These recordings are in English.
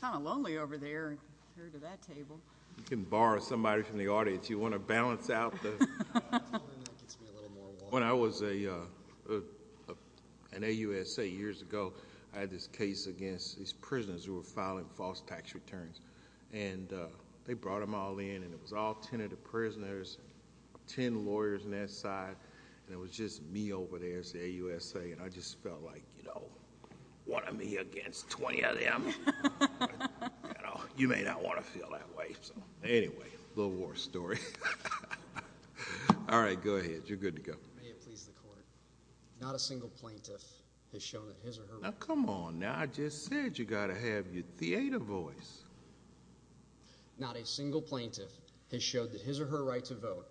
Kind of lonely over there compared to that table. You can borrow somebody from the audience you want to balance out. When I was a an AUSA years ago I had this case against these prisoners who were filing false tax returns and they brought them all in and it was all ten of the prisoners, ten lawyers on that side and it was just me over there as the AUSA and I just felt like you know what am I against 20 of them. You may not want to feel that way so anyway a little war story. All right go ahead you're good to go. Not a single plaintiff has shown that his or her right to vote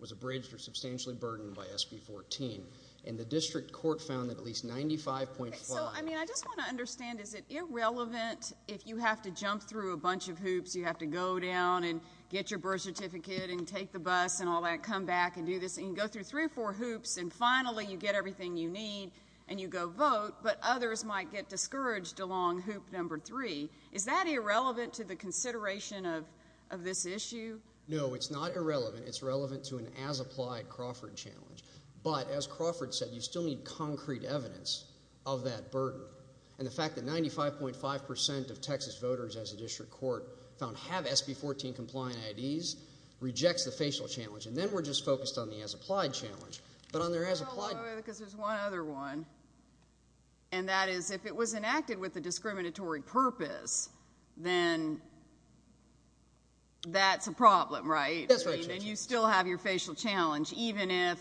was abridged or substantially burdened by SB 14 and the district court found that at least 95.5 I mean I just want to understand is it irrelevant if you have to jump through a bunch of hoops, you have to go down and get your birth certificate and take the bus and all that, come back and do this and go through three or four hoops and finally you get everything you need and you go vote but others might get discouraged along hoop number three. Is that irrelevant to the consideration of this issue? No it's not irrelevant. It's relevant to an as-applied Crawford challenge but as Crawford said you still need concrete evidence of that burden and the fact that 95.5 percent of Texas voters as a district court found have SB 14 compliant IDs rejects the facial challenge and then we're just focused on the as-applied challenge but on their as-applied. Because there's one other one and that is if it was enacted with the discriminatory purpose then that's a problem right? That's right. And you still have your facial challenge even if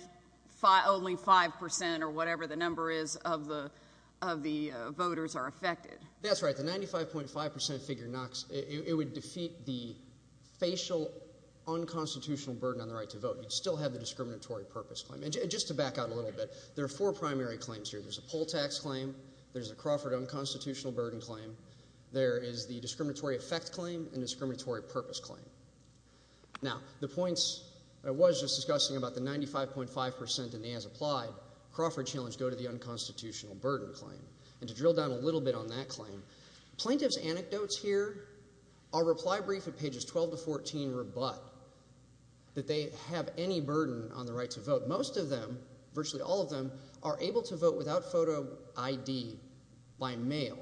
only five percent or whatever the number is of the of the voters are affected. That's right the 95.5 percent figure knocks, it would defeat the facial unconstitutional burden on the right to vote. You'd still have the discriminatory purpose claim and just to back out a little bit there are four primary claims here. There's a poll tax claim, there's a Crawford unconstitutional burden claim, there is the discriminatory effect claim and discriminatory purpose claim. Now the points I was just discussing about the 95.5 percent and the as-applied Crawford challenge go to the unconstitutional burden claim and to drill down a little bit on that claim, plaintiffs anecdotes here, our reply brief at pages 12 to 14 rebut that they have any burden on the right to vote. Most of them, virtually all of them are able to vote without photo ID by mail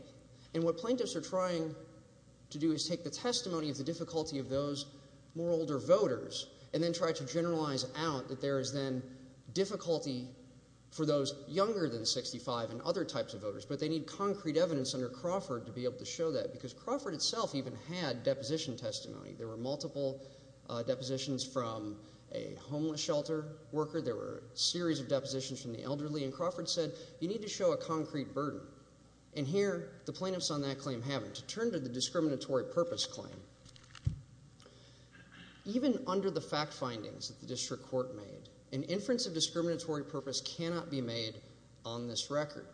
and what plaintiffs are trying to do is take the testimony of the difficulty of those more older voters and then try to generalize out that there is then difficulty for those younger than 65 and other types of voters but they need concrete evidence under Crawford to be able to show that because Crawford itself even had deposition testimony. There were multiple depositions from a homeless shelter worker, there were a series of depositions from the elderly and Crawford said you need to show a concrete burden and here the plaintiffs on that claim haven't. To turn to the discriminatory purpose claim, even under the fact findings that the district court made, an inference of discriminatory purpose cannot be made on this record.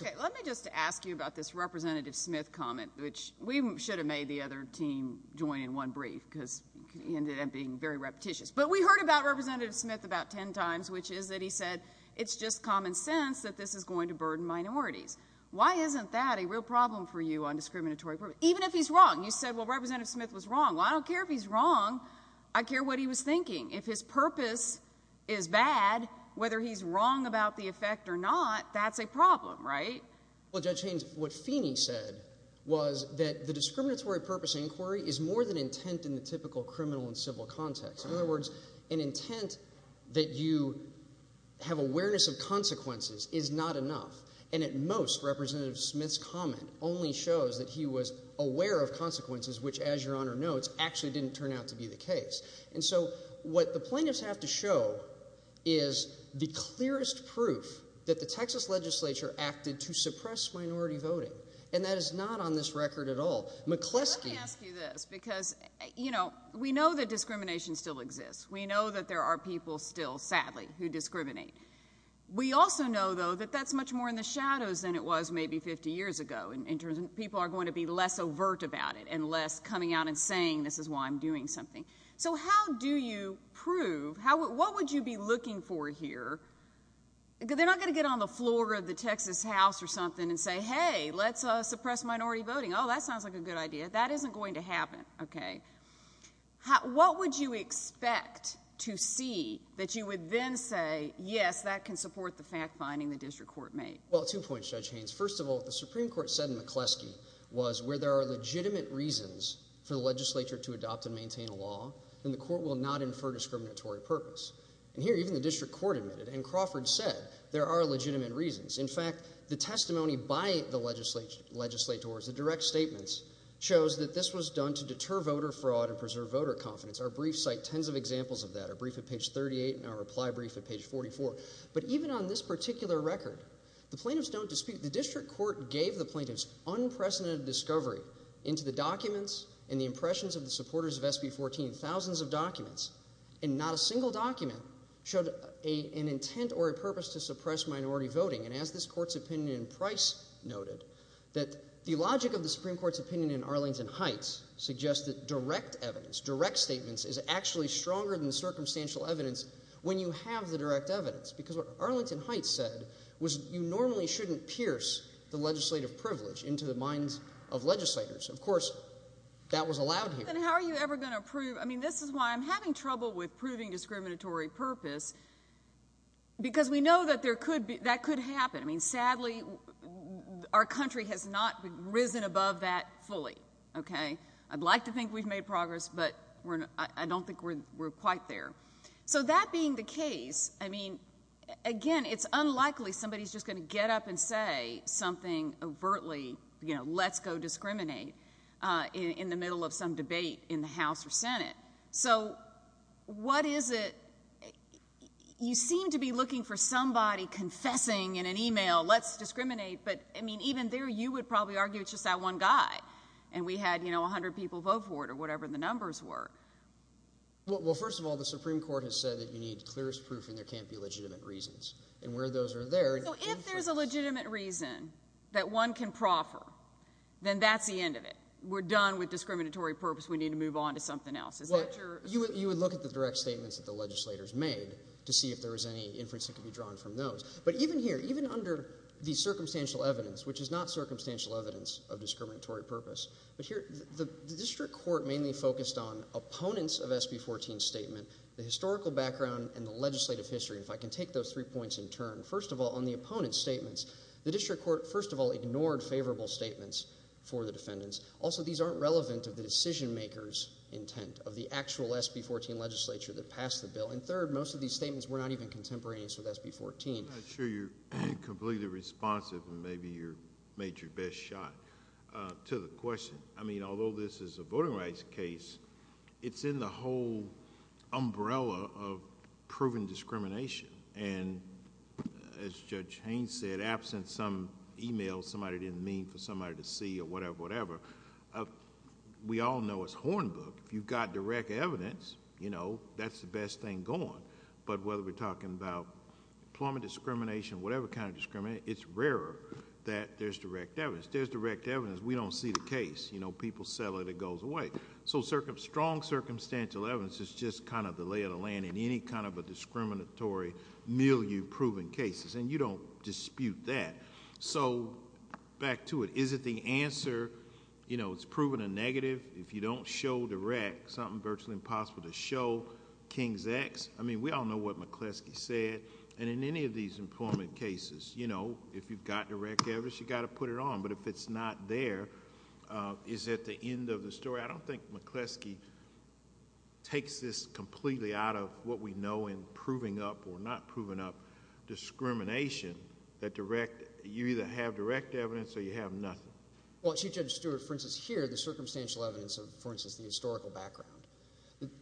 Okay, let me just ask you about this Representative Smith comment which we should have made the other team join in one brief because it ended up being very repetitious but we heard about Representative Smith about ten times which is that he said it's just common sense that this is going to burden minorities. Why isn't that a real problem for you on discriminatory purpose? Even if he's wrong, you said well Representative Smith was wrong. Well I don't care if he's wrong, I care what he was thinking. If his purpose is bad, whether he's wrong about the effect or not, that's a problem, right? Well Judge Haynes, what Feeney said was that the discriminatory purpose inquiry is more than intent in the typical criminal and civil context. In other words, an intent that you have awareness of consequences is not enough and at most Representative Smith's comment only shows that he was aware of consequences which as your Honor notes actually didn't turn out to be the case and so what the plaintiffs have to show is the clearest proof that the Texas legislature acted to suppress minority voting and that is not on this record at all. McCleskey. I want to ask you this because you know we know that discrimination still exists. We know that there are people still sadly who discriminate. We also know though that that's much more in the shadows than it was maybe 50 years ago in terms of people are going to be less overt about it and less coming out and saying this is why I'm doing something. So how do you prove, what would you be looking for here? They're not gonna get on the floor of the Texas House or something and say hey let's suppress minority voting. Oh that sounds like a good idea. That isn't going to happen. Okay. What would you expect to see that you would then say yes that can support the fact-finding the district court made? Well two points Judge Haynes. First of all the Supreme Court said in McCleskey was where there are legitimate reasons for the legislature to adopt and maintain a law then the court will not infer discriminatory purpose and here even the district court admitted and Crawford said there are legitimate reasons. In fact the testimony by the legislators, the direct statements shows that this was done to deter voter fraud and preserve voter confidence. Our brief cite tens of examples of that. Our brief at page 38 and our reply brief at page 44. But even on this particular record the plaintiffs don't dispute the district court gave the plaintiffs unprecedented discovery into the documents and the impressions of the supporters of SB 14. Thousands of documents and not a single document showed an intent or a purpose to suppress minority voting and as this that the logic of the Supreme Court's opinion in Arlington Heights suggests that direct evidence, direct statements is actually stronger than the circumstantial evidence when you have the direct evidence because what Arlington Heights said was you normally shouldn't pierce the legislative privilege into the minds of legislators. Of course that was allowed here. And how are you ever going to prove I mean this is why I'm having trouble with proving discriminatory purpose because we know that there could be that could happen I mean really our country has not risen above that fully okay. I'd like to think we've made progress but I don't think we're quite there. So that being the case I mean again it's unlikely somebody's just going to get up and say something overtly you know let's go discriminate in the middle of some debate in the House or Senate. So what is it you seem to be looking for somebody confessing in an email let's discriminate but I mean even there you would probably argue it's just that one guy and we had you know a hundred people vote for it or whatever the numbers were. Well first of all the Supreme Court has said that you need clearest proof and there can't be legitimate reasons and where those are there. So if there's a legitimate reason that one can proffer then that's the end of it. We're done with discriminatory purpose we need to move on to something else. You would look at the direct statements that the legislators made to see if there was any inference that could be drawn from those but even here even under the circumstantial evidence which is not circumstantial evidence of discriminatory purpose but here the District Court mainly focused on opponents of SB 14 statement the historical background and the legislative history if I can take those three points in turn. First of all on the opponent's statements the District Court first of all ignored favorable statements for the defendants. Also these aren't relevant of the decision makers intent of the actual SB 14 legislature that passed the bill and third most of these statements were not even contemporaneous with SB 14. I'm not sure you're completely responsive and maybe you're made your best shot to the question. I mean although this is a voting rights case it's in the whole umbrella of proven discrimination and as Judge Haynes said absent some email somebody didn't mean for somebody to see or whatever whatever. We all know it's Hornbook if you've got direct evidence you know that's the best thing going but whether we're talking about employment discrimination whatever kind of discrimination it's rarer that there's direct evidence. There's direct evidence we don't see the case you know people settle it it goes away. So strong circumstantial evidence is just kind of the lay of the land in any kind of a discriminatory milieu proven cases and you don't dispute that. So back to it is it the answer you know it's proven a negative if you don't show direct something virtually impossible to show King's X. I mean we all know what McCleskey said and in any of these employment cases you know if you've got direct evidence you got to put it on but if it's not there is at the end of the story. I don't think McCleskey takes this completely out of what we know in proving up or not proving up discrimination that direct you either have direct evidence or you have nothing. Well Chief Judge Stewart for instance here the circumstantial evidence of for instance the historical background.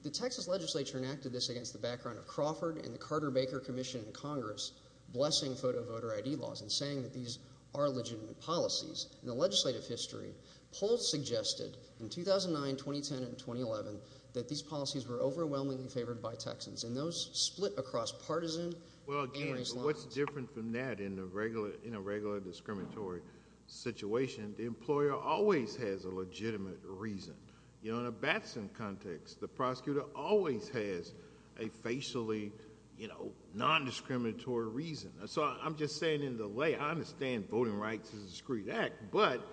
The Texas legislature enacted this against the background of Crawford and the Carter Baker Commission in Congress blessing photo voter ID laws and saying that these are legitimate policies in the legislative history polls suggested in 2009 2010 and 2011 that these policies were overwhelmingly favored by Texans and those split across partisan. Well again what's different from that in the regular in a regular discriminatory situation the employer always has a legitimate reason. You know in a Batson context the prosecutor always has a facially you know non-discriminatory reason. So I'm just saying in the way I understand voting rights is a discreet act but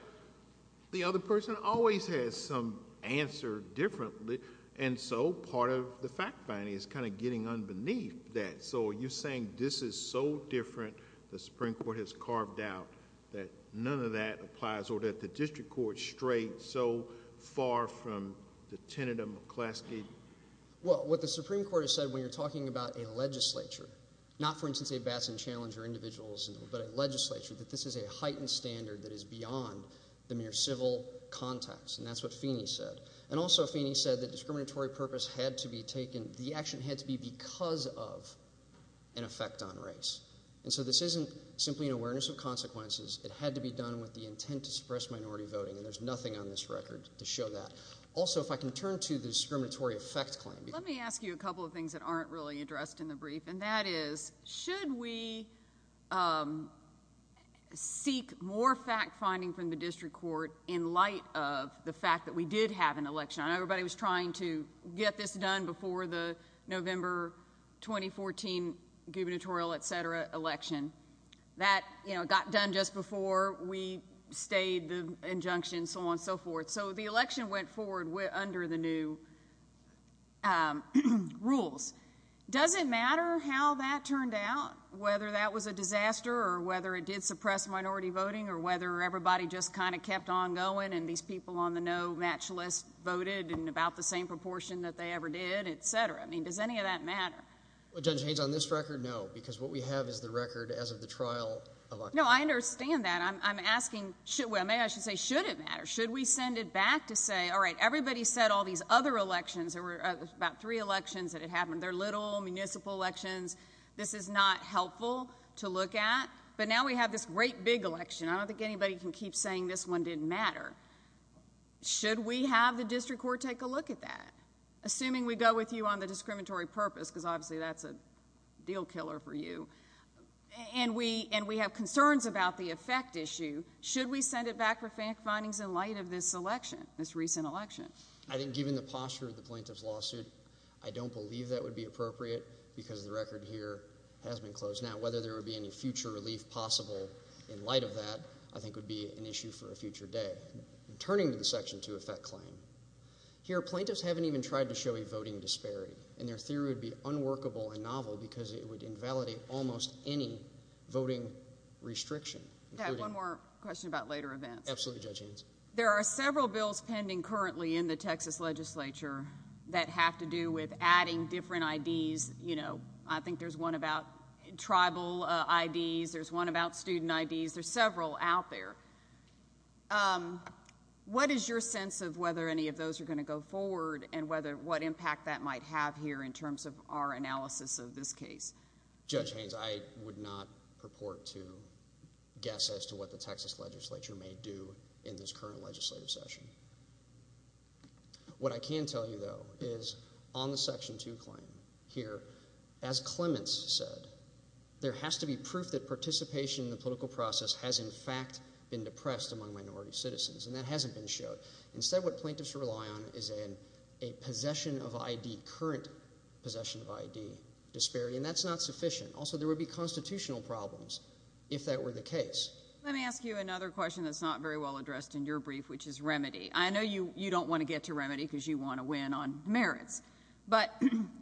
the other person always has some answer differently and so part of the fact finding is kind of getting unbeneath that. So you're saying this is so different the Supreme Court has so far from the tentative class gate? Well what the Supreme Court has said when you're talking about a legislature not for instance a Batson challenge or individuals but a legislature that this is a heightened standard that is beyond the mere civil context and that's what Feeney said and also Feeney said that discriminatory purpose had to be taken the action had to be because of an effect on race and so this isn't simply an awareness of consequences it had to be done with the intent to suppress minority voting and there's nothing on this record to show that. Also if I can turn to the discriminatory effect claim. Let me ask you a couple of things that aren't really addressed in the brief and that is should we seek more fact-finding from the district court in light of the fact that we did have an election. I know everybody was trying to get this done before the November 2014 gubernatorial etc election that you know got done just before we stayed the injunction so on so forth so the election went forward with under the new rules. Does it matter how that turned out whether that was a disaster or whether it did suppress minority voting or whether everybody just kind of kept on going and these people on the no match list voted in about the same proportion that they ever did etc. I mean does any of that matter? Well Judge Haynes on this record no because what we have is the record as of the trial. No I understand that I'm asking should well may I should say should it matter should we send it back to say all right everybody said all these other elections there were about three elections that it happened there little municipal elections this is not helpful to look at but now we have this great big election I don't think anybody can keep saying this one didn't matter. Should we have the district court take a look at that assuming we go with you on a discriminatory purpose because obviously that's a deal killer for you and we and we have concerns about the effect issue should we send it back for fact findings in light of this election this recent election. I think given the posture of the plaintiffs lawsuit I don't believe that would be appropriate because the record here has been closed now whether there would be any future relief possible in light of that I think would be an issue for a future day. Turning to the section to effect claim here plaintiffs haven't even tried to show a voting disparity and their theory would be unworkable and novel because it would invalidate almost any voting restriction. One more question about later events. Absolutely Judge Hanson. There are several bills pending currently in the Texas legislature that have to do with adding different IDs you know I think there's one about tribal IDs there's one about student IDs there's several out there. What is your sense of whether any of those are going to go forward and whether what impact that might have here in terms of our analysis of this case? Judge Haynes I would not purport to guess as to what the Texas legislature may do in this current legislative session. What I can tell you though is on the section 2 claim here as Clements said there has to be proof that participation in the political process has in fact been depressed among minority citizens and that hasn't been showed. Instead what is in a possession of ID current possession of ID disparity and that's not sufficient. Also there would be constitutional problems if that were the case. Let me ask you another question that's not very well addressed in your brief which is remedy. I know you you don't want to get to remedy because you want to win on merits but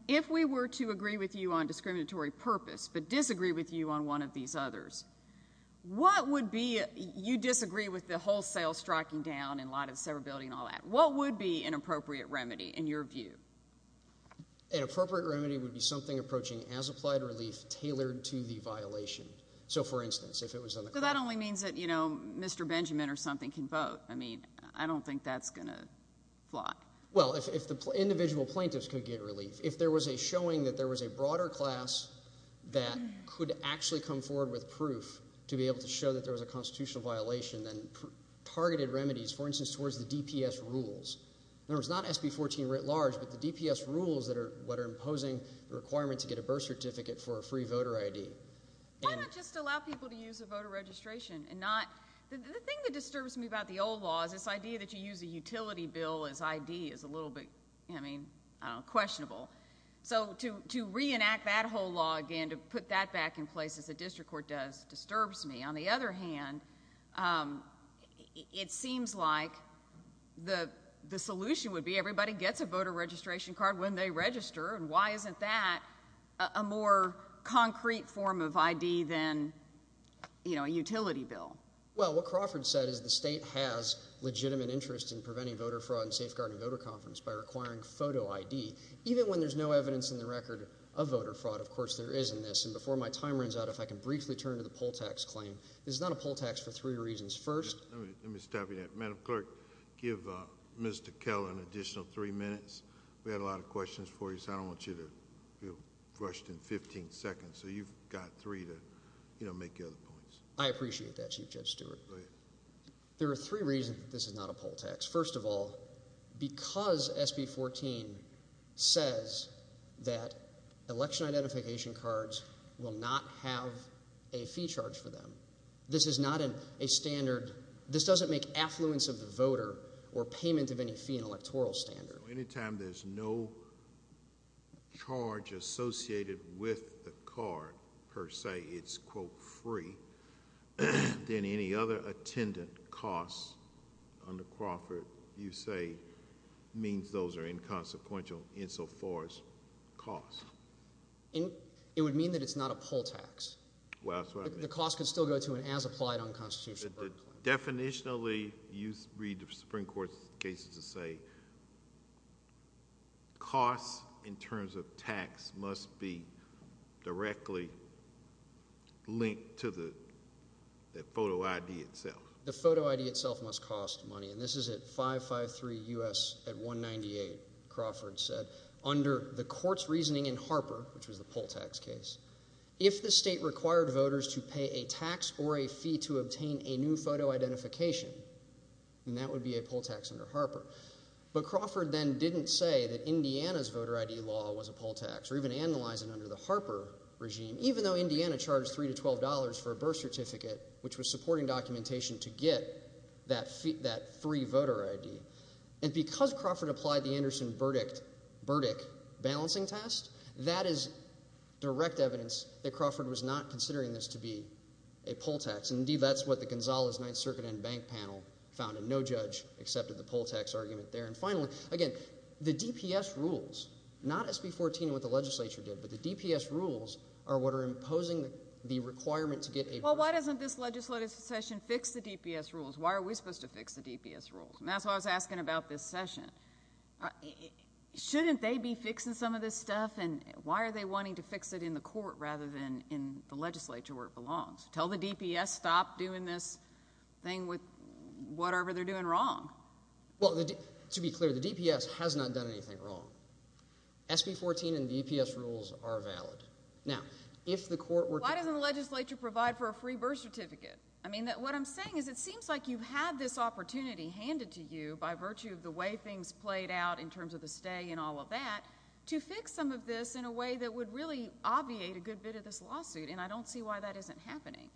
if we were to agree with you on discriminatory purpose but disagree with you on one of these others what would be you disagree with the wholesale striking down and a lot of severability and all that what would be an appropriate remedy in your view? An appropriate remedy would be something approaching as applied relief tailored to the violation. So for instance if it was that only means that you know Mr. Benjamin or something can vote. I mean I don't think that's gonna fly. Well if the individual plaintiffs could get relief if there was a showing that there was a broader class that could actually come forward with proof to be able to show that there was a constitutional violation then targeted remedies for instance towards the DPS rules. There's not SB 14 writ large but the DPS rules that are what are imposing the requirement to get a birth certificate for a free voter ID. Why not just allow people to use a voter registration and not the thing that disturbs me about the old laws this idea that you use a utility bill as ID is a little bit I mean questionable. So to to reenact that whole law again to put that back in place as a district court does disturbs me. On the other hand it seems like the the solution would be everybody gets a voter registration card when they register and why isn't that a more concrete form of ID than you know a utility bill. Well what Crawford said is the state has legitimate interest in preventing voter fraud and safeguarding voter confidence by requiring photo ID. Even when there's no evidence in the record of voter fraud of course there is in this and before my time runs out if I can briefly turn to the poll tax claim. This is not a poll tax for three reasons. First, let me stop you there. Madam clerk give Mr. Keller an additional three minutes. We had a lot of questions for you so I don't want you to feel rushed in 15 seconds so you've got three to you know make the other points. I appreciate that Chief Judge Stewart. There are three reasons this is not a poll tax. First of all because SB 14 says that election identification cards will not have a fee charge for them. This is not a standard this doesn't make affluence of the voter or payment of any fee an electoral standard. Anytime there's no charge associated with the card per se it's quote free then any other attendant costs under Crawford you say means those are inconsequential insofar as cost. It would mean that it's not a poll tax. Well that's what I mean. The cost could still go to an as applied unconstitutional. Definitionally you read the Supreme Court's cases to say costs in terms of tax must be directly linked to the photo ID itself. The photo ID itself must cost money and this is at 553 US at 198 Crawford said under the court's reasoning in Harper which was the poll tax case if the state required voters to pay a tax or a fee to obtain a new photo identification and that would be a poll tax under Harper. But Crawford then didn't say that Indiana's voter ID law was a poll tax or even analyze it under the Harper regime even though Indiana charged three to twelve dollars for a birth certificate which was supporting documentation to get that free voter ID and because Crawford applied the Anderson Burdick Burdick balancing test that is direct evidence that Crawford was not considering this to be a poll tax. Indeed that's what the Gonzales Ninth Circuit and bank panel found and no judge accepted the poll tax argument there. And finally again the DPS rules not SB 14 what the legislature did but the DPS rules are what are imposing the requirement to get a. Well why doesn't this legislative session fix the DPS rules. Why are we supposed to fix the DPS rules. And that's what I was asking about this session. Shouldn't they be fixing some of this stuff and why are they wanting to fix it in the court rather than in the legislature where it belongs. Tell the DPS stop doing this thing with whatever they're doing wrong. Well to be clear the DPS has not done anything wrong. SB 14 and DPS rules are valid. Now if the court were why doesn't the legislature provide for a free birth certificate. I mean that what I'm saying is it seems like you've had this opportunity handed to you by virtue of the way things played out in terms of the stay and all of that to fix some of this in a way that would really obviate a good bit of this lawsuit and I don't see why that isn't happening.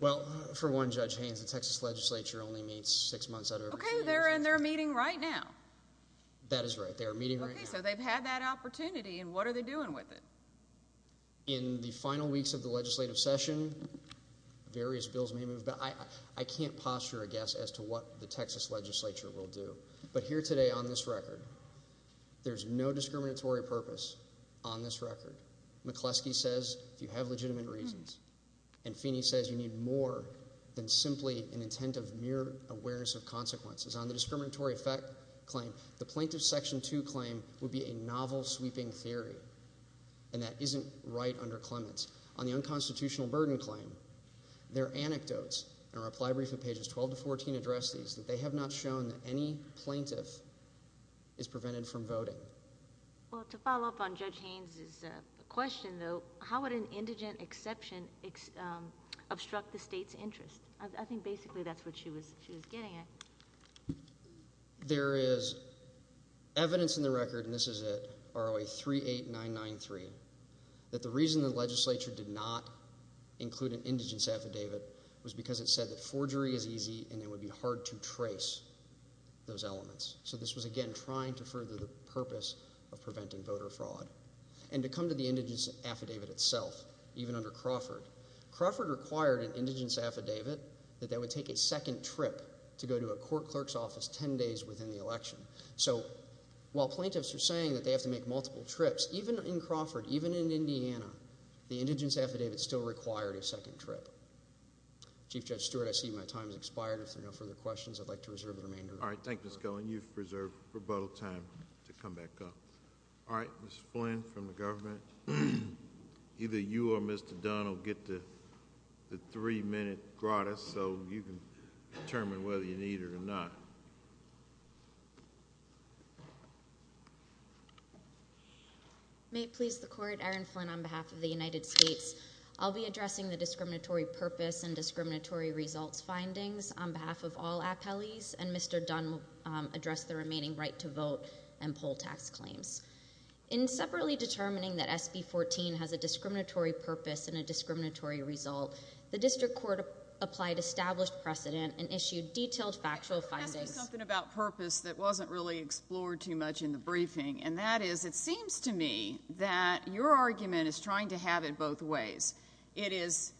Well for one Judge Haynes the Texas Legislature only meets six months out of their meeting right now. That is right they are meeting right now. So they've had that opportunity and what are they going to do about it? I can't posture a guess as to what the Texas Legislature will do but here today on this record there's no discriminatory purpose on this record. McCleskey says if you have legitimate reasons and Feeney says you need more than simply an intent of mere awareness of consequences. On the discriminatory effect claim the plaintiff's section 2 claim would be a novel sweeping theory and that isn't right under Clements. On the unconstitutional burden claim their anecdotes and reply brief of pages 12 to 14 address these that they have not shown that any plaintiff is prevented from voting. Well to follow up on Judge Haynes' question though how would an indigent exception obstruct the state's interest? I think basically that's what she was she was getting at. There is evidence in the record and this is it ROA 38993 that the reason the legislature did not include an indigent affidavit was because it said that forgery is easy and it would be hard to trace those elements. So this was again trying to further the purpose of preventing voter fraud and to come to the indigent affidavit itself even under Crawford. Crawford required an indigent affidavit that that would take a second trip to go to a court clerk's office ten days within the election. So while plaintiffs are saying that they have to make multiple trips even in Crawford even in Indiana the indigent affidavit still required a second trip. Chief Judge Stewart I see my time has expired if there are no further questions I'd like to reserve the remainder. All right thank you Ms. Cohen you've reserved rebuttal time to come back up. All right Ms. Flynn from the government either you or Mr. Dunn will get to the three-minute grata so you can determine whether you need it or not. May it please the court Aaron Flynn on behalf of the United States I'll be addressing the discriminatory purpose and discriminatory results findings on behalf of all appellees and Mr. Dunn will address the remaining right to vote and poll tax claims. In separately determining that SB 14 has a discriminatory purpose and a discriminatory result the district court applied established precedent and issued detailed factual findings. Can I ask you something about purpose that wasn't really explored too much in the briefing and that is it seems to me that your argument is trying to have it both ways. It is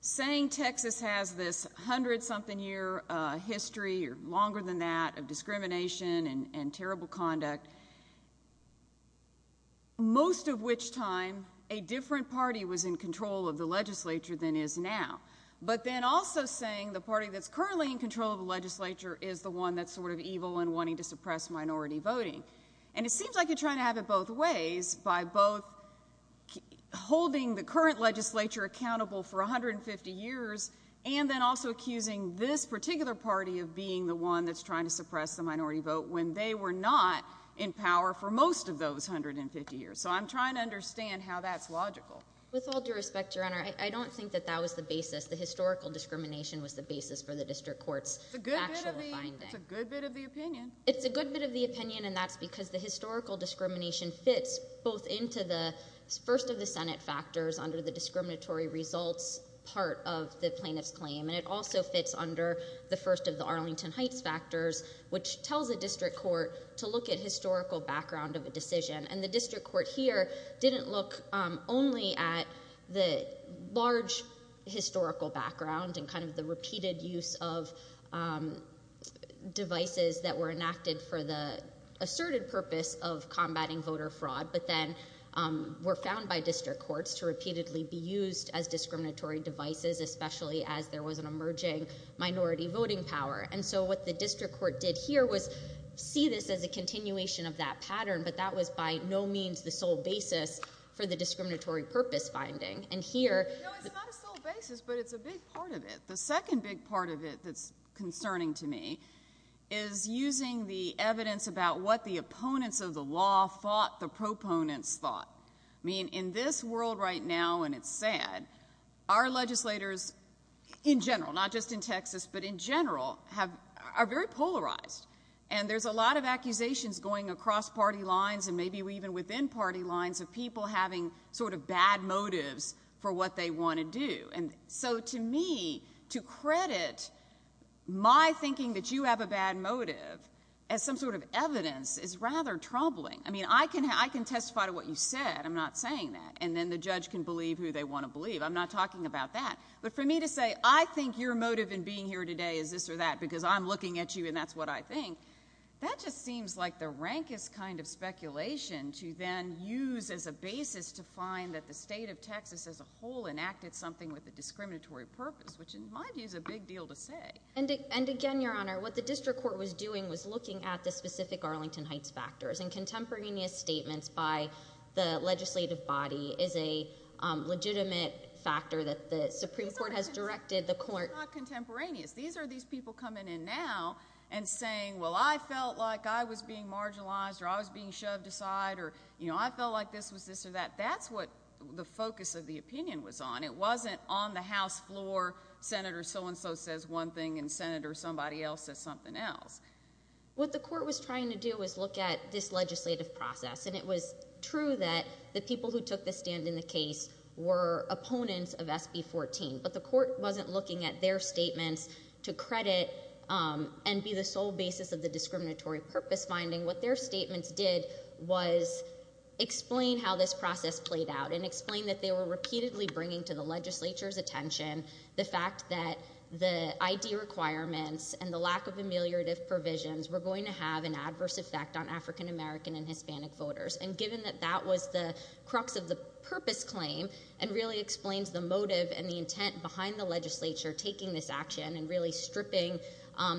saying Texas has this hundred something year history or longer than that of discrimination and and terrible conduct most of which time a different party was in control of the then also saying the party that's currently in control of the legislature is the one that sort of evil and wanting to suppress minority voting and it seems like you're trying to have it both ways by both holding the current legislature accountable for a hundred and fifty years and then also accusing this particular party of being the one that's trying to suppress the minority vote when they were not in power for most of those hundred and fifty years so I'm trying to understand how that's logical. With all due respect your honor I don't think that that was the basis the historical discrimination was the basis for the district court's factual finding. It's a good bit of the opinion. It's a good bit of the opinion and that's because the historical discrimination fits both into the first of the Senate factors under the discriminatory results part of the plaintiff's claim and it also fits under the first of the Arlington Heights factors which tells the district court to look at historical background of a decision and the district court here didn't look only at the large historical background and kind of the repeated use of devices that were enacted for the asserted purpose of combating voter fraud but then were found by district courts to repeatedly be used as discriminatory devices especially as there was an emerging minority voting power and so what the district court did here was see this as the sole basis for the discriminatory purpose finding and here the second big part of it that's concerning to me is using the evidence about what the opponents of the law fought the proponents thought mean in this world right now and it's sad our legislators in general not just in Texas but in general have are very polarized and there's a lot of accusations going across party lines and maybe even within party lines of people having sort of bad motives for what they want to do and so to me to credit my thinking that you have a bad motive as some sort of evidence is rather troubling I mean I can I can testify to what you said I'm not saying that and then the judge can believe who they want to believe I'm not talking about that but for me to say I think your motive in being here today is this or that because I'm looking at you and that's what I think that just seems like the rankest kind of speculation to then use as a basis to find that the state of Texas as a whole enacted something with the discriminatory purpose which in my view is a big deal to say and and again your honor what the district court was doing was looking at the specific Arlington Heights factors and contemporaneous statements by the legislative body is a legitimate factor that the Supreme Court has directed the and saying well I felt like I was being marginalized or I was being shoved aside or you know I felt like this was this or that that's what the focus of the opinion was on it wasn't on the House floor senator so-and-so says one thing and senator somebody else says something else what the court was trying to do is look at this legislative process and it was true that the people who took the stand in the case were opponents of SB 14 but the court wasn't looking at their and be the sole basis of the discriminatory purpose finding what their statements did was explain how this process played out and explain that they were repeatedly bringing to the legislature's attention the fact that the ID requirements and the lack of ameliorative provisions were going to have an adverse effect on african-american and hispanic voters and given that that was the crux of the purpose claim and really explains the motive and the intent behind the legislature taking this action and really stripping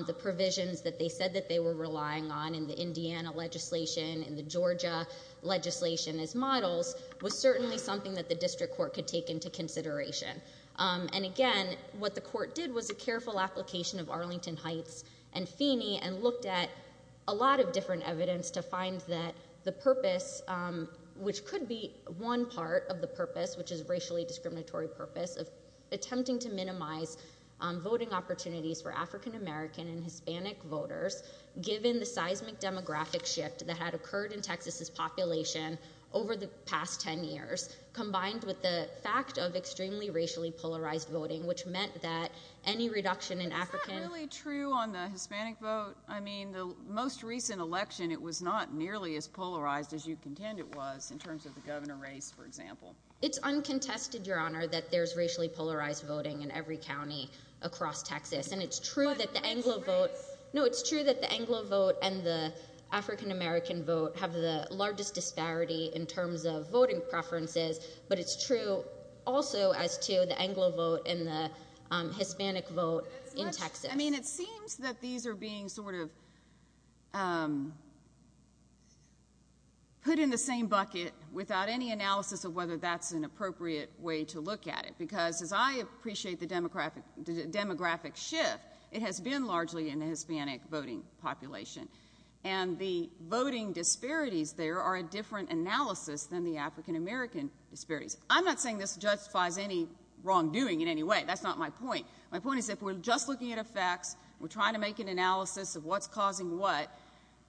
the provisions that they said that they were relying on in the Indiana legislation in the Georgia legislation as models was certainly something that the district court could take into consideration and again what the court did was a careful application of Arlington Heights and Feeney and looked at a lot of different evidence to find that the purpose which could be one part of the purpose which is racially discriminatory purpose of attempting to African-american and Hispanic voters given the seismic demographic shift that had occurred in Texas's population over the past 10 years combined with the fact of extremely racially polarized voting which meant that any reduction in African really true on the Hispanic vote I mean the most recent election it was not nearly as polarized as you contend it was in terms of the governor race for example it's uncontested your honor that there's racially polarized voting in every county across Texas and it's true that the Anglo vote no it's true that the Anglo vote and the African-american vote have the largest disparity in terms of voting preferences but it's true also as to the Anglo vote and the Hispanic vote in Texas I mean it seems that these are being sort of put in the same bucket without any analysis of whether that's an appropriate way to look at it because as I appreciate the demographic demographic shift it has been largely in the Hispanic voting population and the voting disparities there are a different analysis than the African-american disparities I'm not saying this justifies any wrongdoing in any way that's not my point my point is if we're just looking at effects we're trying to make an analysis of what's causing what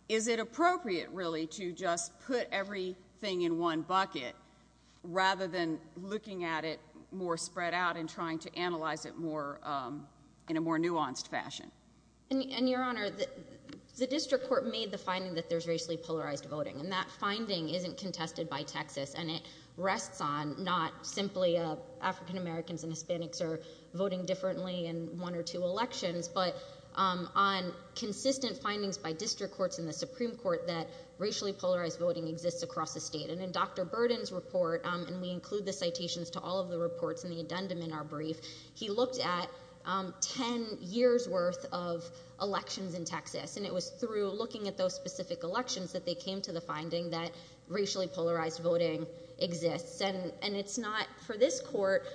is it appropriate really to just put everything in one bucket rather than looking at it more spread out and trying to analyze it more in a more nuanced fashion and your honor the district court made the finding that there's racially polarized voting and that finding isn't contested by Texas and it rests on not simply African-americans and Hispanics are voting differently in one or two elections but on consistent findings by district courts in the Supreme Court that racially polarized voting exists across the state and in Dr. Burden's report and we include the citations to all of the reports in the addendum in our brief he looked at ten years worth of elections in Texas and it was through looking at those specific elections that they came to the finding that racially polarized voting exists and and it's not for this court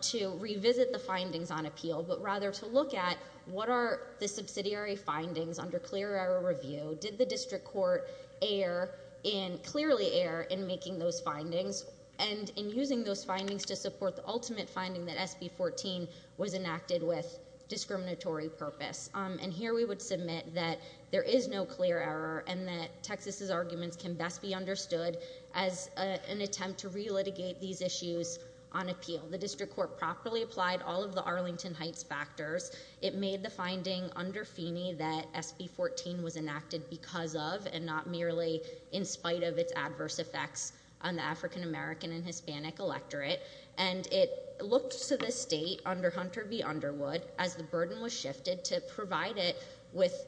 to revisit the findings on appeal but rather to look at what are the subsidiary findings under clear our review did the district court air in clearly air in making those findings and in using those findings to support the ultimate finding that SB 14 was enacted with discriminatory purpose and here we would submit that there is no clear error and that Texas's arguments can best be understood as an attempt to relitigate these issues on appeal the district court properly applied all of the Arlington Heights factors it made the finding under Feeney that SB 14 was enacted because of and not merely in its adverse effects on the African-American and Hispanic electorate and it looked to the state under Hunter v Underwood as the burden was shifted to provide it with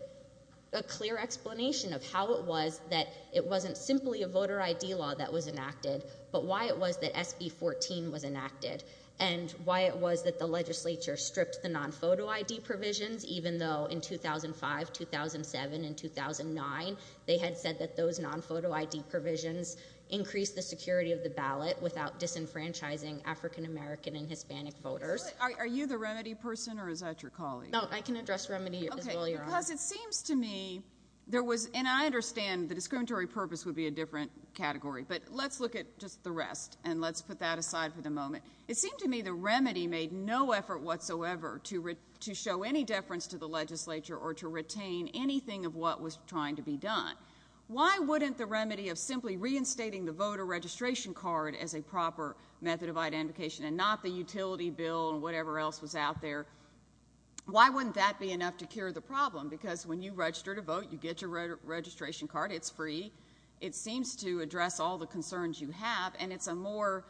a clear explanation of how it was that it wasn't simply a voter ID law that was enacted but why it was that SB 14 was enacted and why it was that the legislature stripped the non photo ID provisions even though in 2005 2007 and 2009 they had said that those non photo ID provisions increase the security of the ballot without disenfranchising African-American and Hispanic voters are you the remedy person or is that your colleague I can address remedy because it seems to me there was and I understand the discriminatory purpose would be a different category but let's look at just the rest and let's put that aside for the moment it seemed to me the remedy made no effort whatsoever to read to show any deference to the legislature or to retain anything of what was trying to be done why wouldn't the remedy of simply reinstating the voter registration card as a proper method of identification and not the utility bill and whatever else was out there why wouldn't that be enough to cure the problem because when you register to vote you get your registration card it's free it seems to address all the concerns you have and it's a more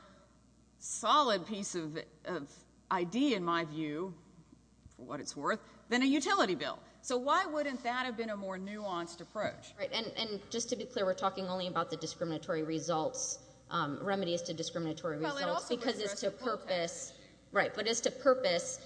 solid piece of ID in my view for what it's worth than a utility bill so why wouldn't that have been a more nuanced approach right and and just to be clear we're talking only about the discriminatory results remedies to discriminatory results because it's a purpose right but it's a purpose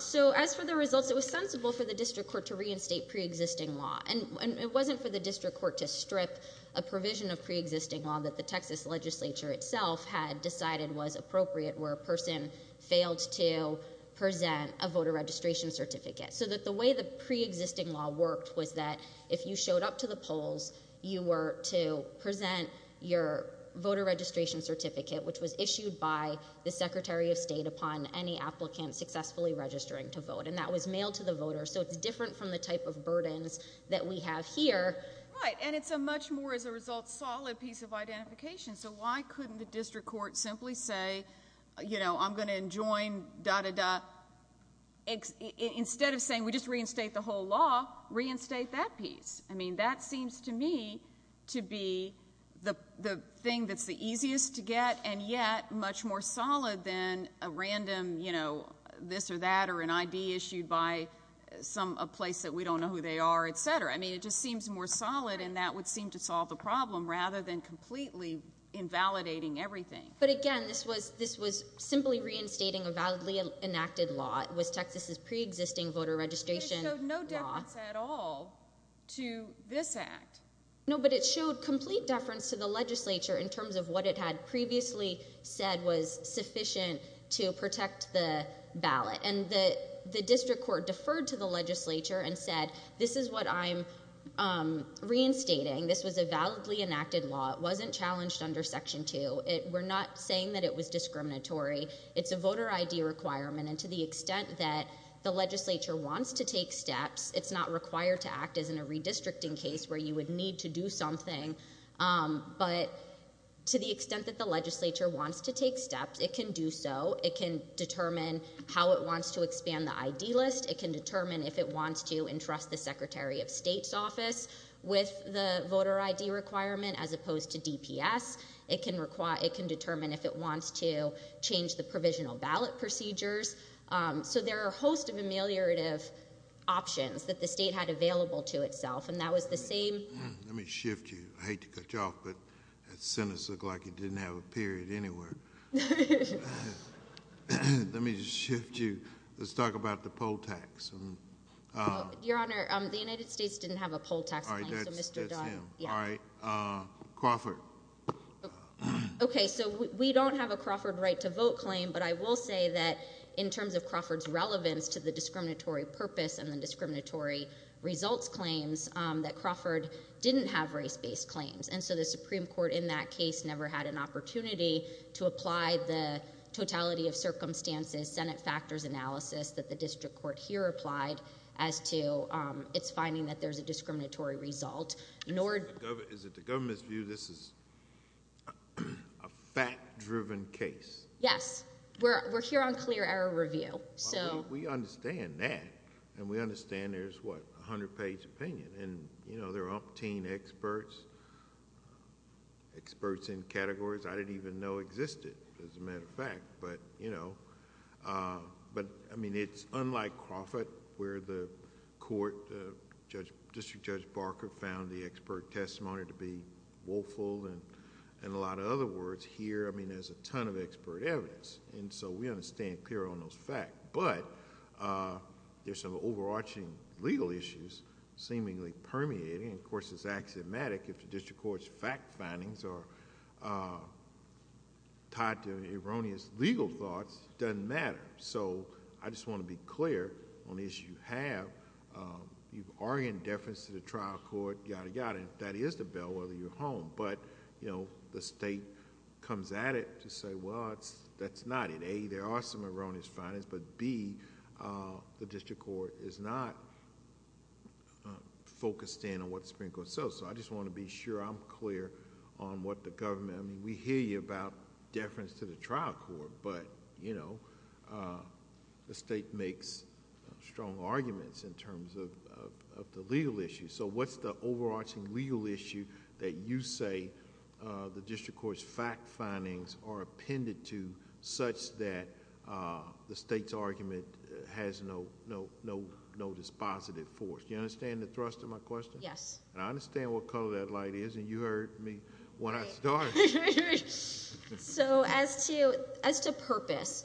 so as for the results it was sensible for the district court to reinstate pre-existing law and it wasn't for the district court to strip a provision of pre-existing law that the Texas legislature itself had decided was appropriate where a person failed to present a voter registration certificate so that the way the pre-existing law worked was that if you showed up to the polls you were to present your voter registration certificate which was issued by the Secretary of State upon any applicant successfully registering to vote and that was mailed to the voter so it's different from the type of burdens that we have here right and it's a much more as a result solid piece of identification so why couldn't the simply say you know I'm going to enjoin da da da instead of saying we just reinstate the whole law reinstate that piece I mean that seems to me to be the the thing that's the easiest to get and yet much more solid than a random you know this or that or an ID issued by some a place that we don't know who they are etc I mean it just seems more solid and that would seem to solve the problem rather than completely invalidating everything but again this was this was simply reinstating a validly enacted law it was Texas's pre-existing voter registration no difference at all to this act no but it showed complete deference to the legislature in terms of what it had previously said was sufficient to protect the ballot and that the district court deferred to the legislature and said this is what I'm reinstating this was a validly enacted law it wasn't challenged under section 2 it we're not saying that it was discriminatory it's a voter ID requirement and to the extent that the legislature wants to take steps it's not required to act as in a redistricting case where you would need to do something but to the extent that the legislature wants to take steps it can do so it can determine how it wants to expand the ID list it can determine if it wants to entrust the Secretary of as opposed to DPS it can require it can determine if it wants to change the provisional ballot procedures so there are a host of ameliorative options that the state had available to itself and that was the same let me shift you I hate to cut you off but that sentence look like it didn't have a period anywhere let me just shift you let's talk about the poll tax your honor the Crawford okay so we don't have a Crawford right to vote claim but I will say that in terms of Crawford's relevance to the discriminatory purpose and the discriminatory results claims that Crawford didn't have race-based claims and so the Supreme Court in that case never had an opportunity to apply the totality of circumstances Senate factors analysis that the district court here applied as to its finding that there's a discriminatory result nor is it the government's view this is a fact-driven case yes we're here on clear error review so we understand that and we understand there's what a hundred page opinion and you know they're umpteen experts experts in categories I didn't even know existed as a matter of fact but you know but I mean it's unlike Crawford where the court judge district judge Barker found the expert testimony to be woeful and and a lot of other words here I mean there's a ton of expert evidence and so we understand clear on those fact but there's some overarching legal issues seemingly permeating of course it's axiomatic if the district courts fact findings are tied to erroneous legal thoughts doesn't matter so I just want to be clear on the issue you have you've bringing deference to the trial court yada yada that is the bell whether you're home but you know the state comes at it to say well it's that's not it a there are some erroneous findings but be the district court is not focused in on what sprinkled so so I just want to be sure I'm clear on what the government I mean we hear you about deference to the trial court but you know the state makes strong arguments in terms of the legal issue so what's the overarching legal issue that you say the district courts fact findings are appended to such that the state's argument has no no no no dispositive force you understand the thrust of my question yes I understand what color that light is and you heard me what I thought so as to as to purpose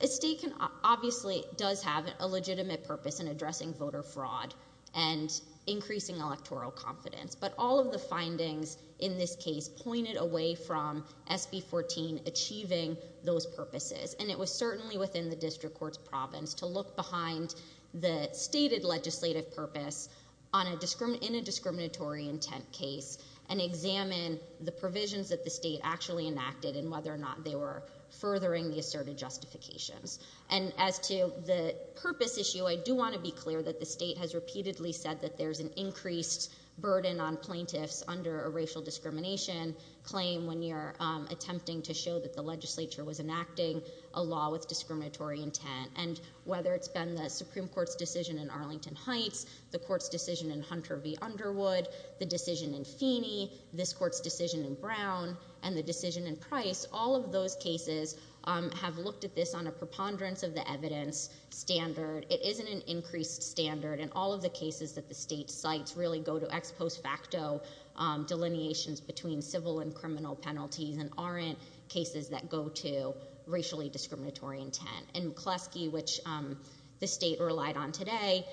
a state can obviously does have a legitimate purpose in addressing voter fraud and increasing electoral confidence but all of the findings in this case pointed away from SB 14 achieving those purposes and it was certainly within the district courts province to look behind the stated legislative purpose on a discriminate in examine the provisions that the state actually enacted and whether or not they were furthering the asserted justifications and as to the purpose issue I do want to be clear that the state has repeatedly said that there's an increased burden on plaintiffs under a racial discrimination claim when you're attempting to show that the legislature was enacting a law with discriminatory intent and whether it's been the Supreme Court's decision in Arlington Heights the court's decision in Hunter v Underwood the decision in this court's decision in Brown and the decision in price all of those cases have looked at this on a preponderance of the evidence standard it isn't an increased standard and all of the cases that the state sites really go to ex post facto delineations between civil and criminal penalties and aren't cases that go to racially discriminatory intent and Kleski which the state relied on today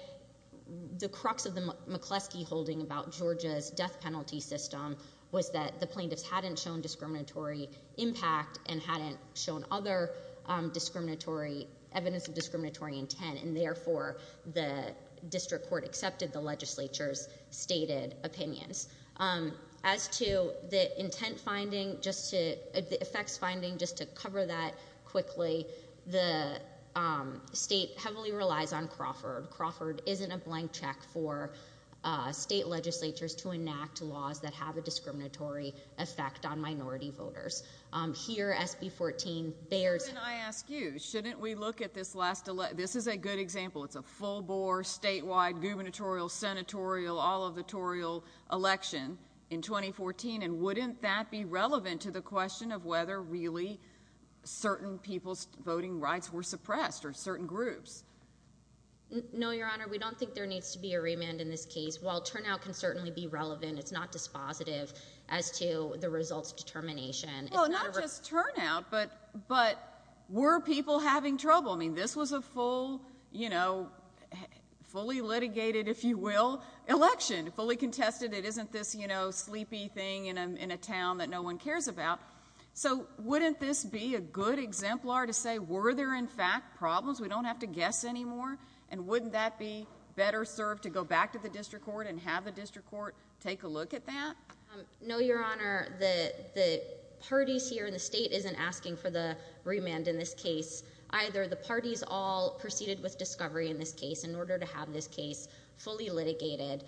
the crux of the McCluskey holding about Georgia's death penalty system was that the plaintiffs hadn't shown discriminatory impact and hadn't shown other discriminatory evidence of discriminatory intent and therefore the district court accepted the legislature's stated opinions as to the intent finding just to the effects finding just to cover that quickly the state heavily relies on Crawford Crawford isn't a blank check for state legislatures to enact laws that have a discriminatory effect on minority voters here SB 14 there's I ask you shouldn't we look at this last election this is a good example it's a full bore statewide gubernatorial senatorial all of the toriel election in 2014 and wouldn't that be relevant to the question of whether really certain people's voting rights were suppressed or certain groups no your honor we don't think there needs to be a remand in this case while turnout can certainly be relevant it's not dispositive as to the results determination just turn out but but were people having trouble I mean this was a full you know fully litigated if you will election fully contested it isn't this you know sleepy thing in a town that no one cares about so wouldn't this be a good exemplar to say were there in fact problems we don't have to guess anymore and wouldn't that be better served to go back to the district court and have a district court take a look at that no your honor the parties here in the state isn't asking for the remand in this case either the parties all proceeded with discovery in this case in order to have this case fully litigated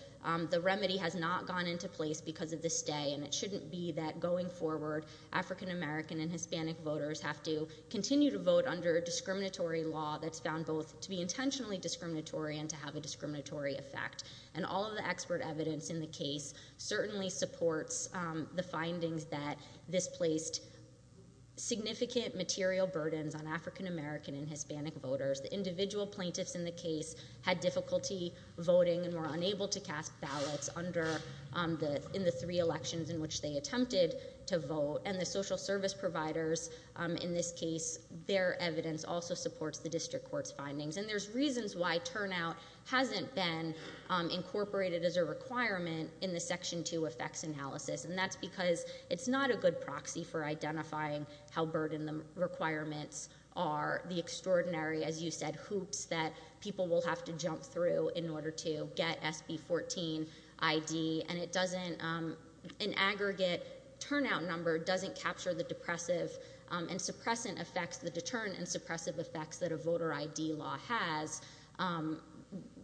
the remedy has not gone into place because of this day and it shouldn't be that going forward african-american and hispanic voters have to continue to vote under discriminatory law that's found both to be intentionally discriminatory and to have a discriminatory effect and all of the expert evidence in the case certainly supports the findings that this placed significant material burdens on african-american and hispanic voters the individual plaintiffs in the case had difficulty voting and were unable to cast ballots under the in the three elections in which they attempted to vote and the social service providers in this case their evidence also supports the district court's findings and there's reasons why turnout hasn't been incorporated as a requirement in the section 2 effects analysis and that's because it's not a good proxy for identifying how burden the requirements are the extraordinary as you said hoops that people will have to jump through in order to get SB 14 ID and it doesn't an the depressive and suppressant effects the deterrent and suppressive effects that a voter ID law has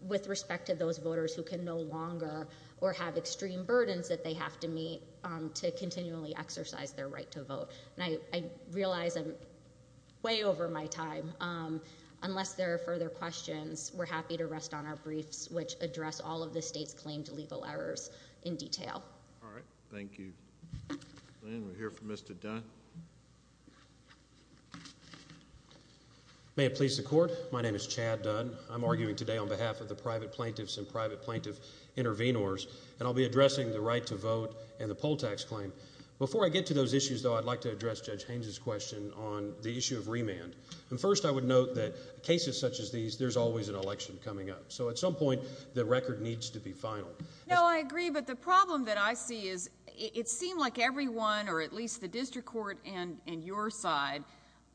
with respect to those voters who can no longer or have extreme burdens that they have to meet to continually exercise their right to vote and I realize I'm way over my time unless there are further questions we're happy to rest on our briefs which address all of the state's claimed to legal errors in detail thank you here for mr. done may please the court my name is Chad done I'm arguing today on behalf of the private plaintiffs and private plaintiff intervenors and I'll be addressing the right to vote and the poll tax claim before I get to those issues though I'd like to address judge Haines's question on the issue of remand and first I would note that cases such as these there's always an election coming up so at some point the record needs to be final no I agree but the problem that I see is it seemed like everyone or at least the district court and in your side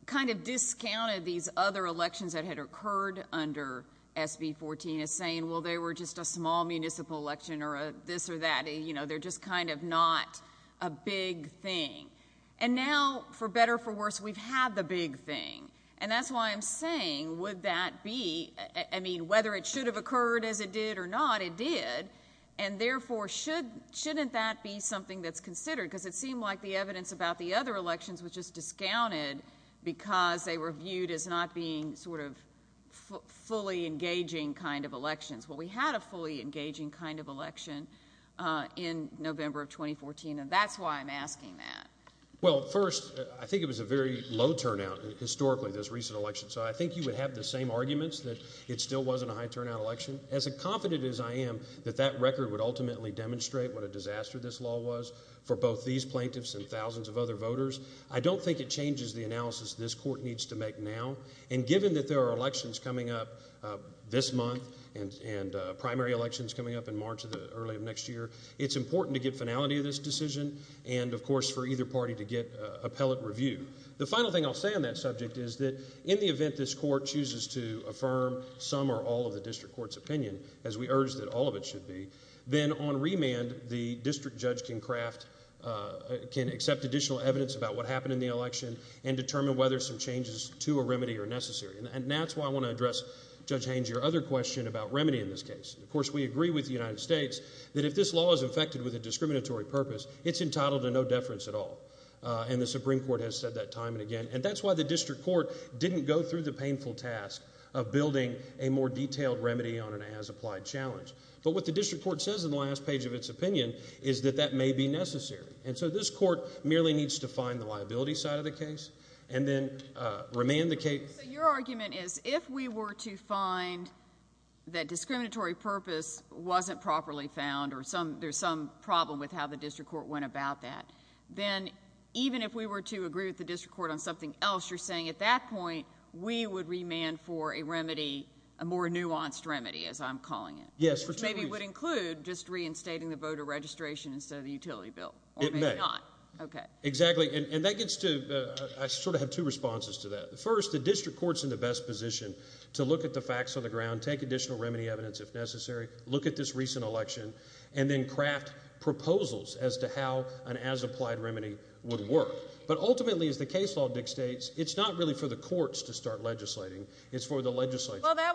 kind of discounted these other elections that had occurred under SB 14 is saying well they were just a small municipal election or a this or that you know they're just kind of not a big thing and now for better for worse we've had the big thing and that's why I'm saying would that be I mean whether it should have occurred as it did or not it did and therefore should shouldn't that be something that's considered because it seemed like the evidence about the other elections which is discounted because they were viewed as not being sort of fully engaging kind of elections what we had a fully engaging kind of election in November 2014 and that's why I'm asking that well first I think it was a very low turnout historically this recent election so I think you would have the same arguments that it still wasn't a high turnout election as a confident as I am that that record would ultimately demonstrate what a disaster this law was for both these plaintiffs and thousands of other voters I don't think it changes the analysis this court needs to make now and given that there are elections coming up this month and and primary elections coming up in March of the early of next year it's important to get finality of this decision and of course for either party to get appellate review the final thing I'll say on that subject is that in the event this court chooses to affirm some or all of the district court's opinion as we urge that all of it should be then on remand the district judge can craft can accept additional evidence about what happened in the election and determine whether some changes to a remedy are necessary and that's why I want to address judge Haines your other question about remedy in this case of course we agree with the United States that if this law is affected with a discriminatory purpose it's entitled to no deference at all and the Supreme Court has said that time and again and that's why the district court didn't go through the painful task of building a more detailed remedy on an as-applied challenge but what the district court says in the last page of its opinion is that that may be necessary and so this court merely needs to find the liability side of the case and then remain the case your argument is if we were to find that discriminatory purpose wasn't properly found or some there's some problem with how the district court went about that then even if we were to agree with the district court on something else you're saying at that point we would remand for a remedy a more nuanced remedy as I'm calling it yes which maybe would include just reinstating the voter registration instead of the utility bill okay exactly and that gets to I sort of have two responses to that first the district courts in the best position to look at the facts on the ground take additional remedy evidence if necessary look at this recent election and then craft proposals as to how an as-applied remedy would work but ultimately as the case law dictates it's not really for the courts to start legislating it's for the legislature I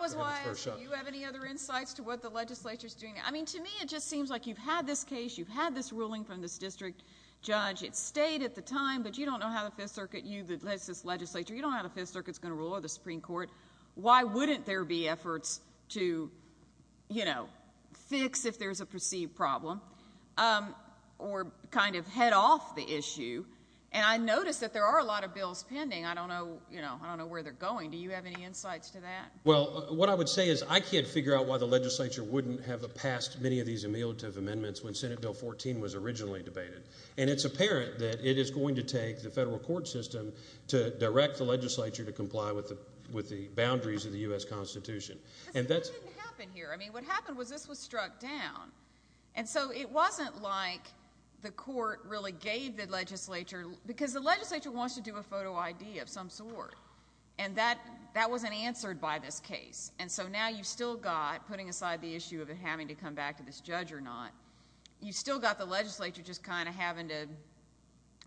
mean to me it just seems like you've had this case you've had this ruling from this district judge it stayed at the time but you don't know how the Fifth Circuit you that lets this legislature you don't have a fifth circuits gonna rule or the Supreme Court why wouldn't there be efforts to you know fix if there's a perceived problem or kind of head off the issue and I noticed that there are a lot of bills pending I don't know you know I don't know where they're going do you have any insights to that well what I would say is I can't figure out why the legislature wouldn't have a past many of these ameliorative amendments when Senate bill 14 was originally debated and it's apparent that it is going to take the federal court system to direct the legislature to comply with the with the boundaries of the US Constitution and that's what happened was this was struck down and so it wasn't like the court really gave the legislature because the legislature wants to do a photo ID of some sort and that that wasn't answered by this case and so now you've still got putting aside the issue of it having to come back to this judge or not you still got the legislature just kind of having to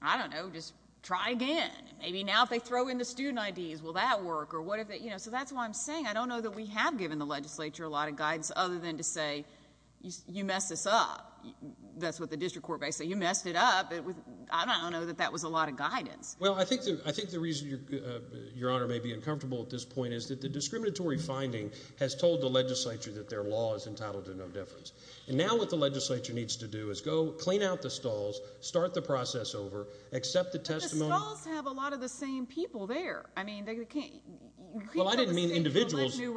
I don't know just try again maybe now if they throw in the student IDs will that work or what if it you know so that's why I'm saying I don't know that we have given the legislature a lot of guidance other than to say you mess this up that's what the district court may say you messed it up it was I don't know that that was a lot of guidance well I think that I think the reason your honor may be uncomfortable at this point is that the discriminatory finding has told the legislature that their law is entitled to no difference and now what the legislature needs to do is go clean out the stalls start the process over accept the testimony have a lot of the same people there I mean they can't well I don't mean individuals new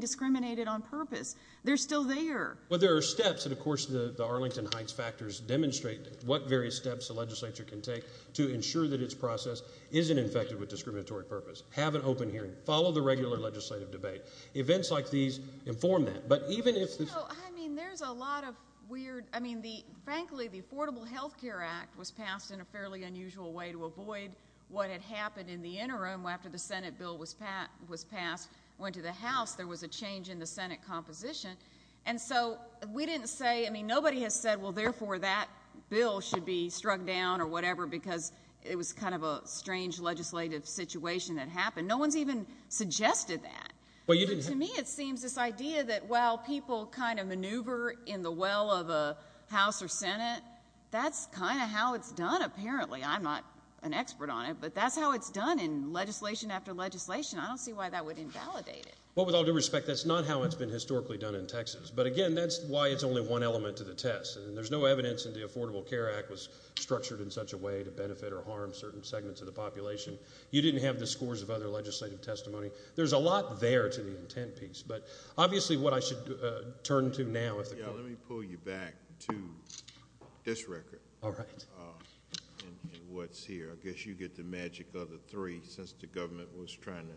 discriminated on purpose they're still there well there are steps and of course the Arlington Heights factors demonstrate what various steps the legislature can take to ensure that its process isn't infected with discriminatory purpose have an open hearing follow the regular legislative debate events like these inform that but even if there's a lot of weird I mean the frankly the Affordable Health Care Act was passed in a fairly unusual way to avoid what had happened in the interim after the Senate bill was Pat was passed went to the house there was a change in the Senate composition and so we didn't say I mean nobody has said well therefore that bill should be struck down or whatever because it was kind of a strange legislative situation that happened no one's even suggested that well you didn't to me it seems this idea that while people kind of maneuver in the well of a house or Senate that's kind of how it's done apparently I'm not an expert on it but that's how it's done in legislation after legislation I don't see why that would invalidate it well with all due respect that's not how it's been historically done in Texas but again that's why it's only one element to the test and there's no evidence in the Affordable Care Act was structured in such a way to benefit or harm certain segments of the population you didn't have the scores of other legislative testimony there's a lot there to the intent piece but obviously what I should turn to now let me pull you back to this record all right what's here I guess you get the magic of the three since the government was trying to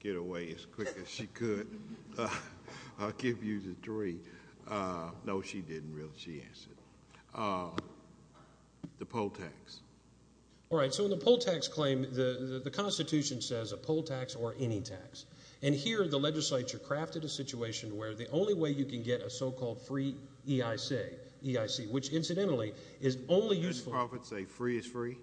get away as quick as she could I'll give you the three no she didn't really she answered the poll tax all right so in the poll tax claim the the Constitution says a poll tax or any tax and here the legislature crafted a situation where the only way you can get a so-called free EIC which incidentally is only use profits a free is free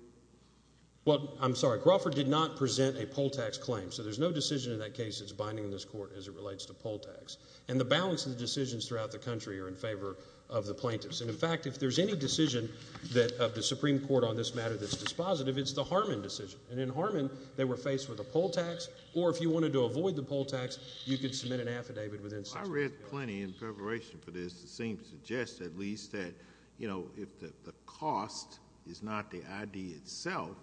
well I'm sorry Crawford did not present a poll tax claim so there's no decision in that case it's binding in this court as it relates to poll tax and the balance of the decisions throughout the country are in favor of the plaintiffs and in fact if there's any decision that of the Supreme Court on this matter that's dispositive it's the Harmon decision and in Harmon they were faced with a poll tax or if you wanted to avoid the poll tax you could submit an affidavit within I read plenty in preparation for this the same suggests at least that you know if the cost is not the ID itself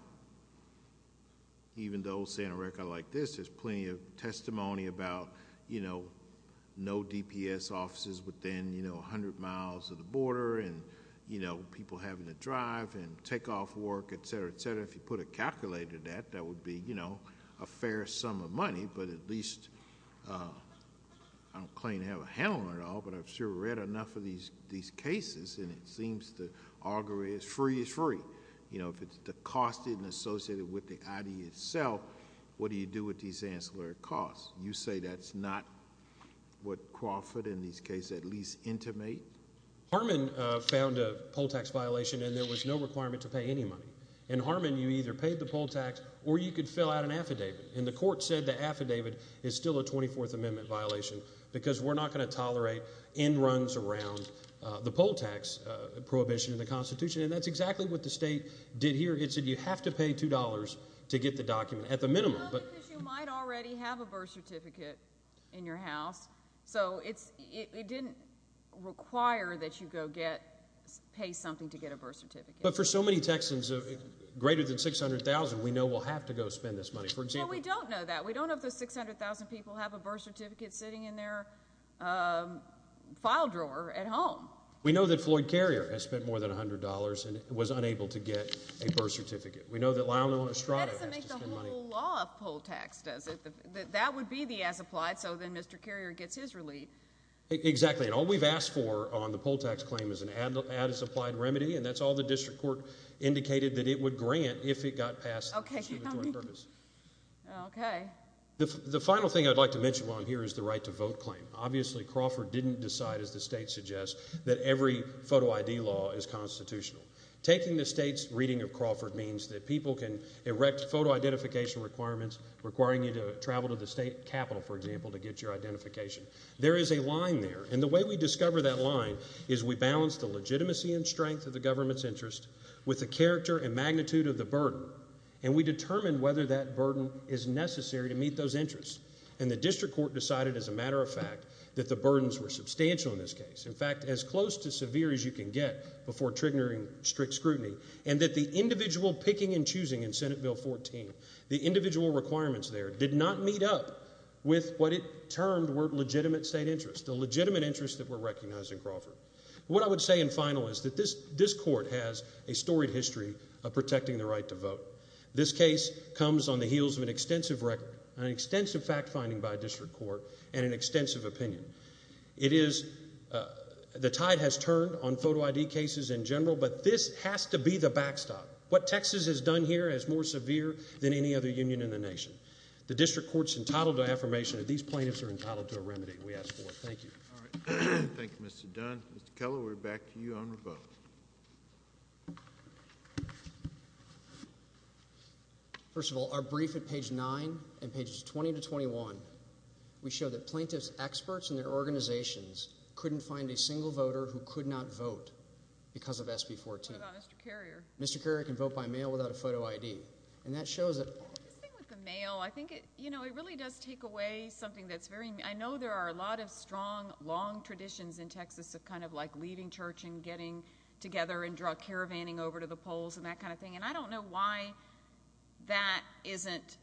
even though Santa Rica like this there's plenty of testimony about you know no DPS offices within you know a hundred miles of the border and you know people having to drive and take off work etc etc if you put a calculator that that would be you know a fair sum of money but at least I don't claim to have a handle on it all but I've sure read enough of these these cases and it seems the augury is free is free you know if it's the cost isn't associated with the ID itself what do you do with these ancillary costs you say that's not what Crawford in these case at least intimate Harmon found a poll tax violation and there was no requirement to pay any money and Harmon you either paid the poll tax or you could fill out an affidavit and the court said the affidavit is still a 24th Amendment violation because we're not going to tolerate in runs around the poll tax prohibition in the Constitution and that's exactly what the state did here it said you have to pay $2 to get the document at the minimum but might already have a birth certificate in your house so it's it didn't require that you go get pay something to get a birth certificate but for so many Texans of greater than six hundred thousand we know we'll have to go spend this money for example we don't know that we don't have a birth certificate sitting in their file drawer at home we know that Floyd Carrier has spent more than $100 and it was unable to get a birth certificate we know that loud on Estrada whole tax does it that would be the as applied so then mr. Carrier gets his relief exactly and all we've asked for on the poll tax claim is an ad as applied remedy and that's all the the final thing I'd like to mention on here is the right to vote claim obviously Crawford didn't decide as the state suggests that every photo ID law is constitutional taking the state's reading of Crawford means that people can erect photo identification requirements requiring you to travel to the state capital for example to get your identification there is a line there and the way we discover that line is we balance the legitimacy and strength of the government's interest with the character and magnitude of the and we determine whether that burden is necessary to meet those interests and the district court decided as a matter of fact that the burdens were substantial in this case in fact as close to severe as you can get before triggering strict scrutiny and that the individual picking and choosing in Senate bill 14 the individual requirements there did not meet up with what it termed were legitimate state interest the legitimate interest that were recognized in Crawford what I would say in final is that this this court has a storied history of protecting the right to vote this case comes on the heels of an extensive record an extensive fact-finding by a district court and an extensive opinion it is the tide has turned on photo ID cases in general but this has to be the backstop what Texas has done here is more severe than any other Union in the nation the district courts entitled to affirmation that these plaintiffs are entitled to a remedy we ask for thank you thank you mr. Dunn Mr. Keller we're back to you on the boat first of all our brief at page 9 and pages 20 to 21 we show that plaintiffs experts and their organizations couldn't find a single voter who could not vote because of SB 14 mr. Carrier can vote by mail without a photo ID and that shows that with the mail I think it you know it really does take away something that's very I know there are a lot of strong long traditions in Texas of kind of like leading church and getting together and drug caravanning over to the polls and that kind of thing and I don't know why that isn't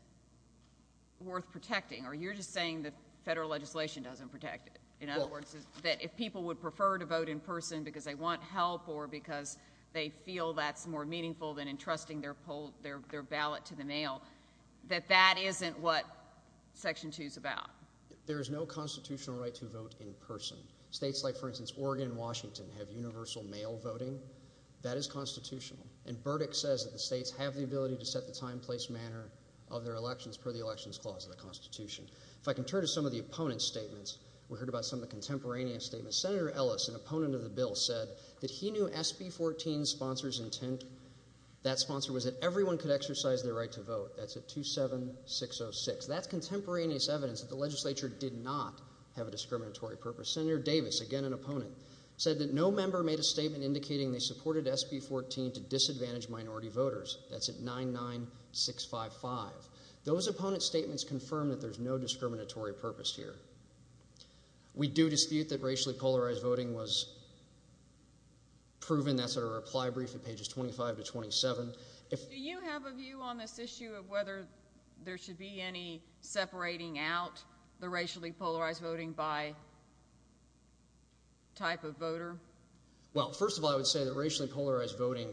worth protecting or you're just saying that federal legislation doesn't protect it in other words that if people would prefer to vote in person because they want help or because they feel that's more meaningful than entrusting their poll their ballot to the mail that that isn't what section 2 is about there is no constitutional right to vote in person states like for instance Oregon Washington have universal mail voting that is constitutional and Burdick says that the states have the ability to set the time place manner of their elections per the Elections Clause of the Constitution if I can turn to some of the opponents statements we heard about some of the contemporaneous statements senator Ellis an opponent of the bill said that he knew SB 14 sponsors intent that sponsor was that everyone could exercise their right to vote that's a 27606 that's contemporaneous evidence that the legislature did not have a discriminatory purpose senator Davis again an opponent said that no member made a statement indicating they supported SB 14 to disadvantage minority voters that's at 99655 those opponents statements confirm that there's no discriminatory purpose here we do dispute that racially polarized voting was proven that's a reply brief at pages 25 to 27 if you have a view on this issue of whether there should be any separating out the racially polarized voting by type of voter well first of all I would say that racially polarized voting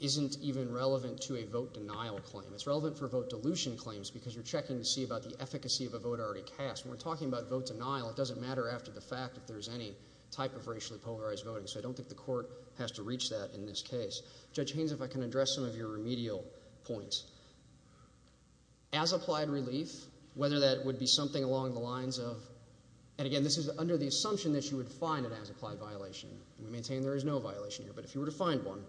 isn't even relevant to a vote denial claim it's relevant for vote dilution claims because you're checking to see about the efficacy of a vote already cast we're talking about vote denial it doesn't matter after the racially polarized voting so I don't think the court has to reach that in this case judge Haynes if I can address some of your remedial points as applied relief whether that would be something along the lines of and again this is under the assumption that you would find it as applied violation we maintain there is no violation here but if you were to find one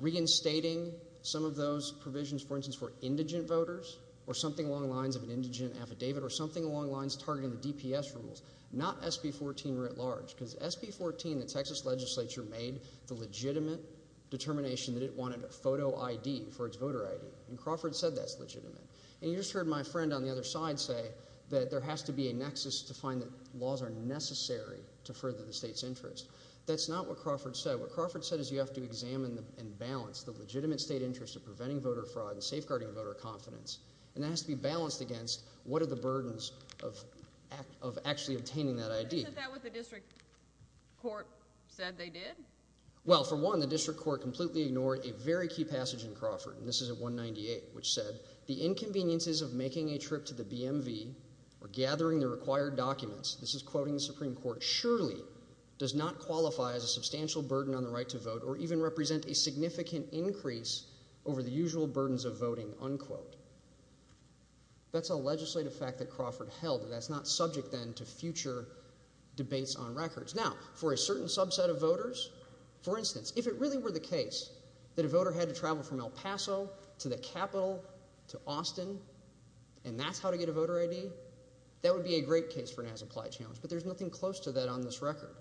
reinstating some of those provisions for instance for indigent voters or something along the lines of an indigent affidavit or something along the lines targeting the voter ID in 2014 the Texas legislature made the legitimate determination that it wanted a photo ID for its voter ID and Crawford said that's legitimate and you just heard my friend on the other side say that there has to be a nexus to find that laws are necessary to further the state's interest that's not what Crawford said what Crawford said is you have to examine them and balance the legitimate state interest of preventing voter fraud and safeguarding voter confidence and that has to be balanced against what are the burdens of actually obtaining that ID well for one the district court completely ignored a very key passage in Crawford and this is a 198 which said the inconveniences of making a trip to the BMV or gathering the required documents this is quoting the Supreme Court surely does not qualify as a substantial burden on the right to vote or even represent a significant increase over the usual burdens of voting unquote that's a legislative fact that Crawford held that's not subject then to future debates on records now for a certain subset of voters for instance if it really were the case that a voter had to travel from El Paso to the capital to Austin and that's how to get a voter ID that would be a great case for an as-applied challenge but there's nothing close to that on this record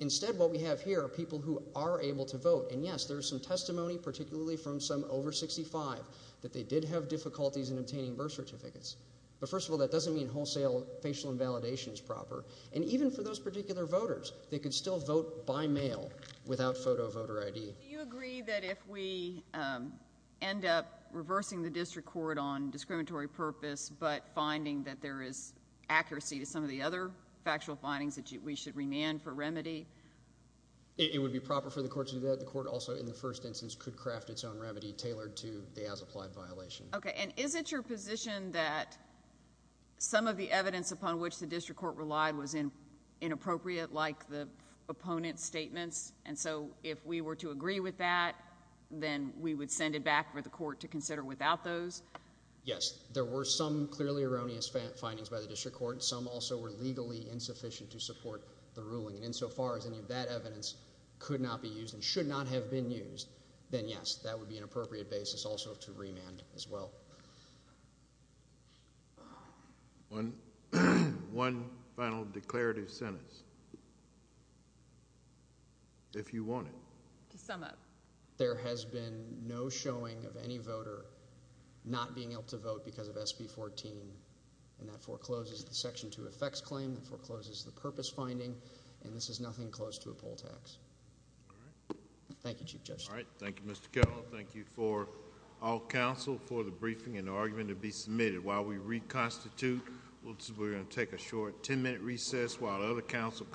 instead what we have here are people who are able to vote and yes there's some testimony particularly from some over 65 that they did have difficulties in obtaining birth certificates but first of all that doesn't mean wholesale facial invalidation is proper and even for those particular voters they could still vote by mail without photo voter ID you agree that if we end up reversing the district court on discriminatory purpose but finding that there is accuracy to some of the other factual findings that we should remand for remedy it would be proper for the court to do that the court also in the first instance could craft its own remedy tailored to the as-applied violation okay and is it your position that some of the evidence upon which the district court relied was in inappropriate like the opponent's statements and so if we were to agree with that then we would send it back for the court to consider without those yes there were some clearly erroneous findings by the district court some also were legally insufficient to support the ruling and insofar as any of that evidence could not be used and should not have been used then yes that would be an appropriate basis also to remand as well one one final declarative sentence if you wanted to sum up there has been no showing of any voter not being able to vote because of SB 14 and that forecloses the section 2 effects claim that forecloses the purpose finding and this is nothing close to a poll tax thank you just all right thank you mr. Carroll thank you for all counsel for the briefing and argument to be submitted while we reconstitute we're going to take a short 10-minute recess while other council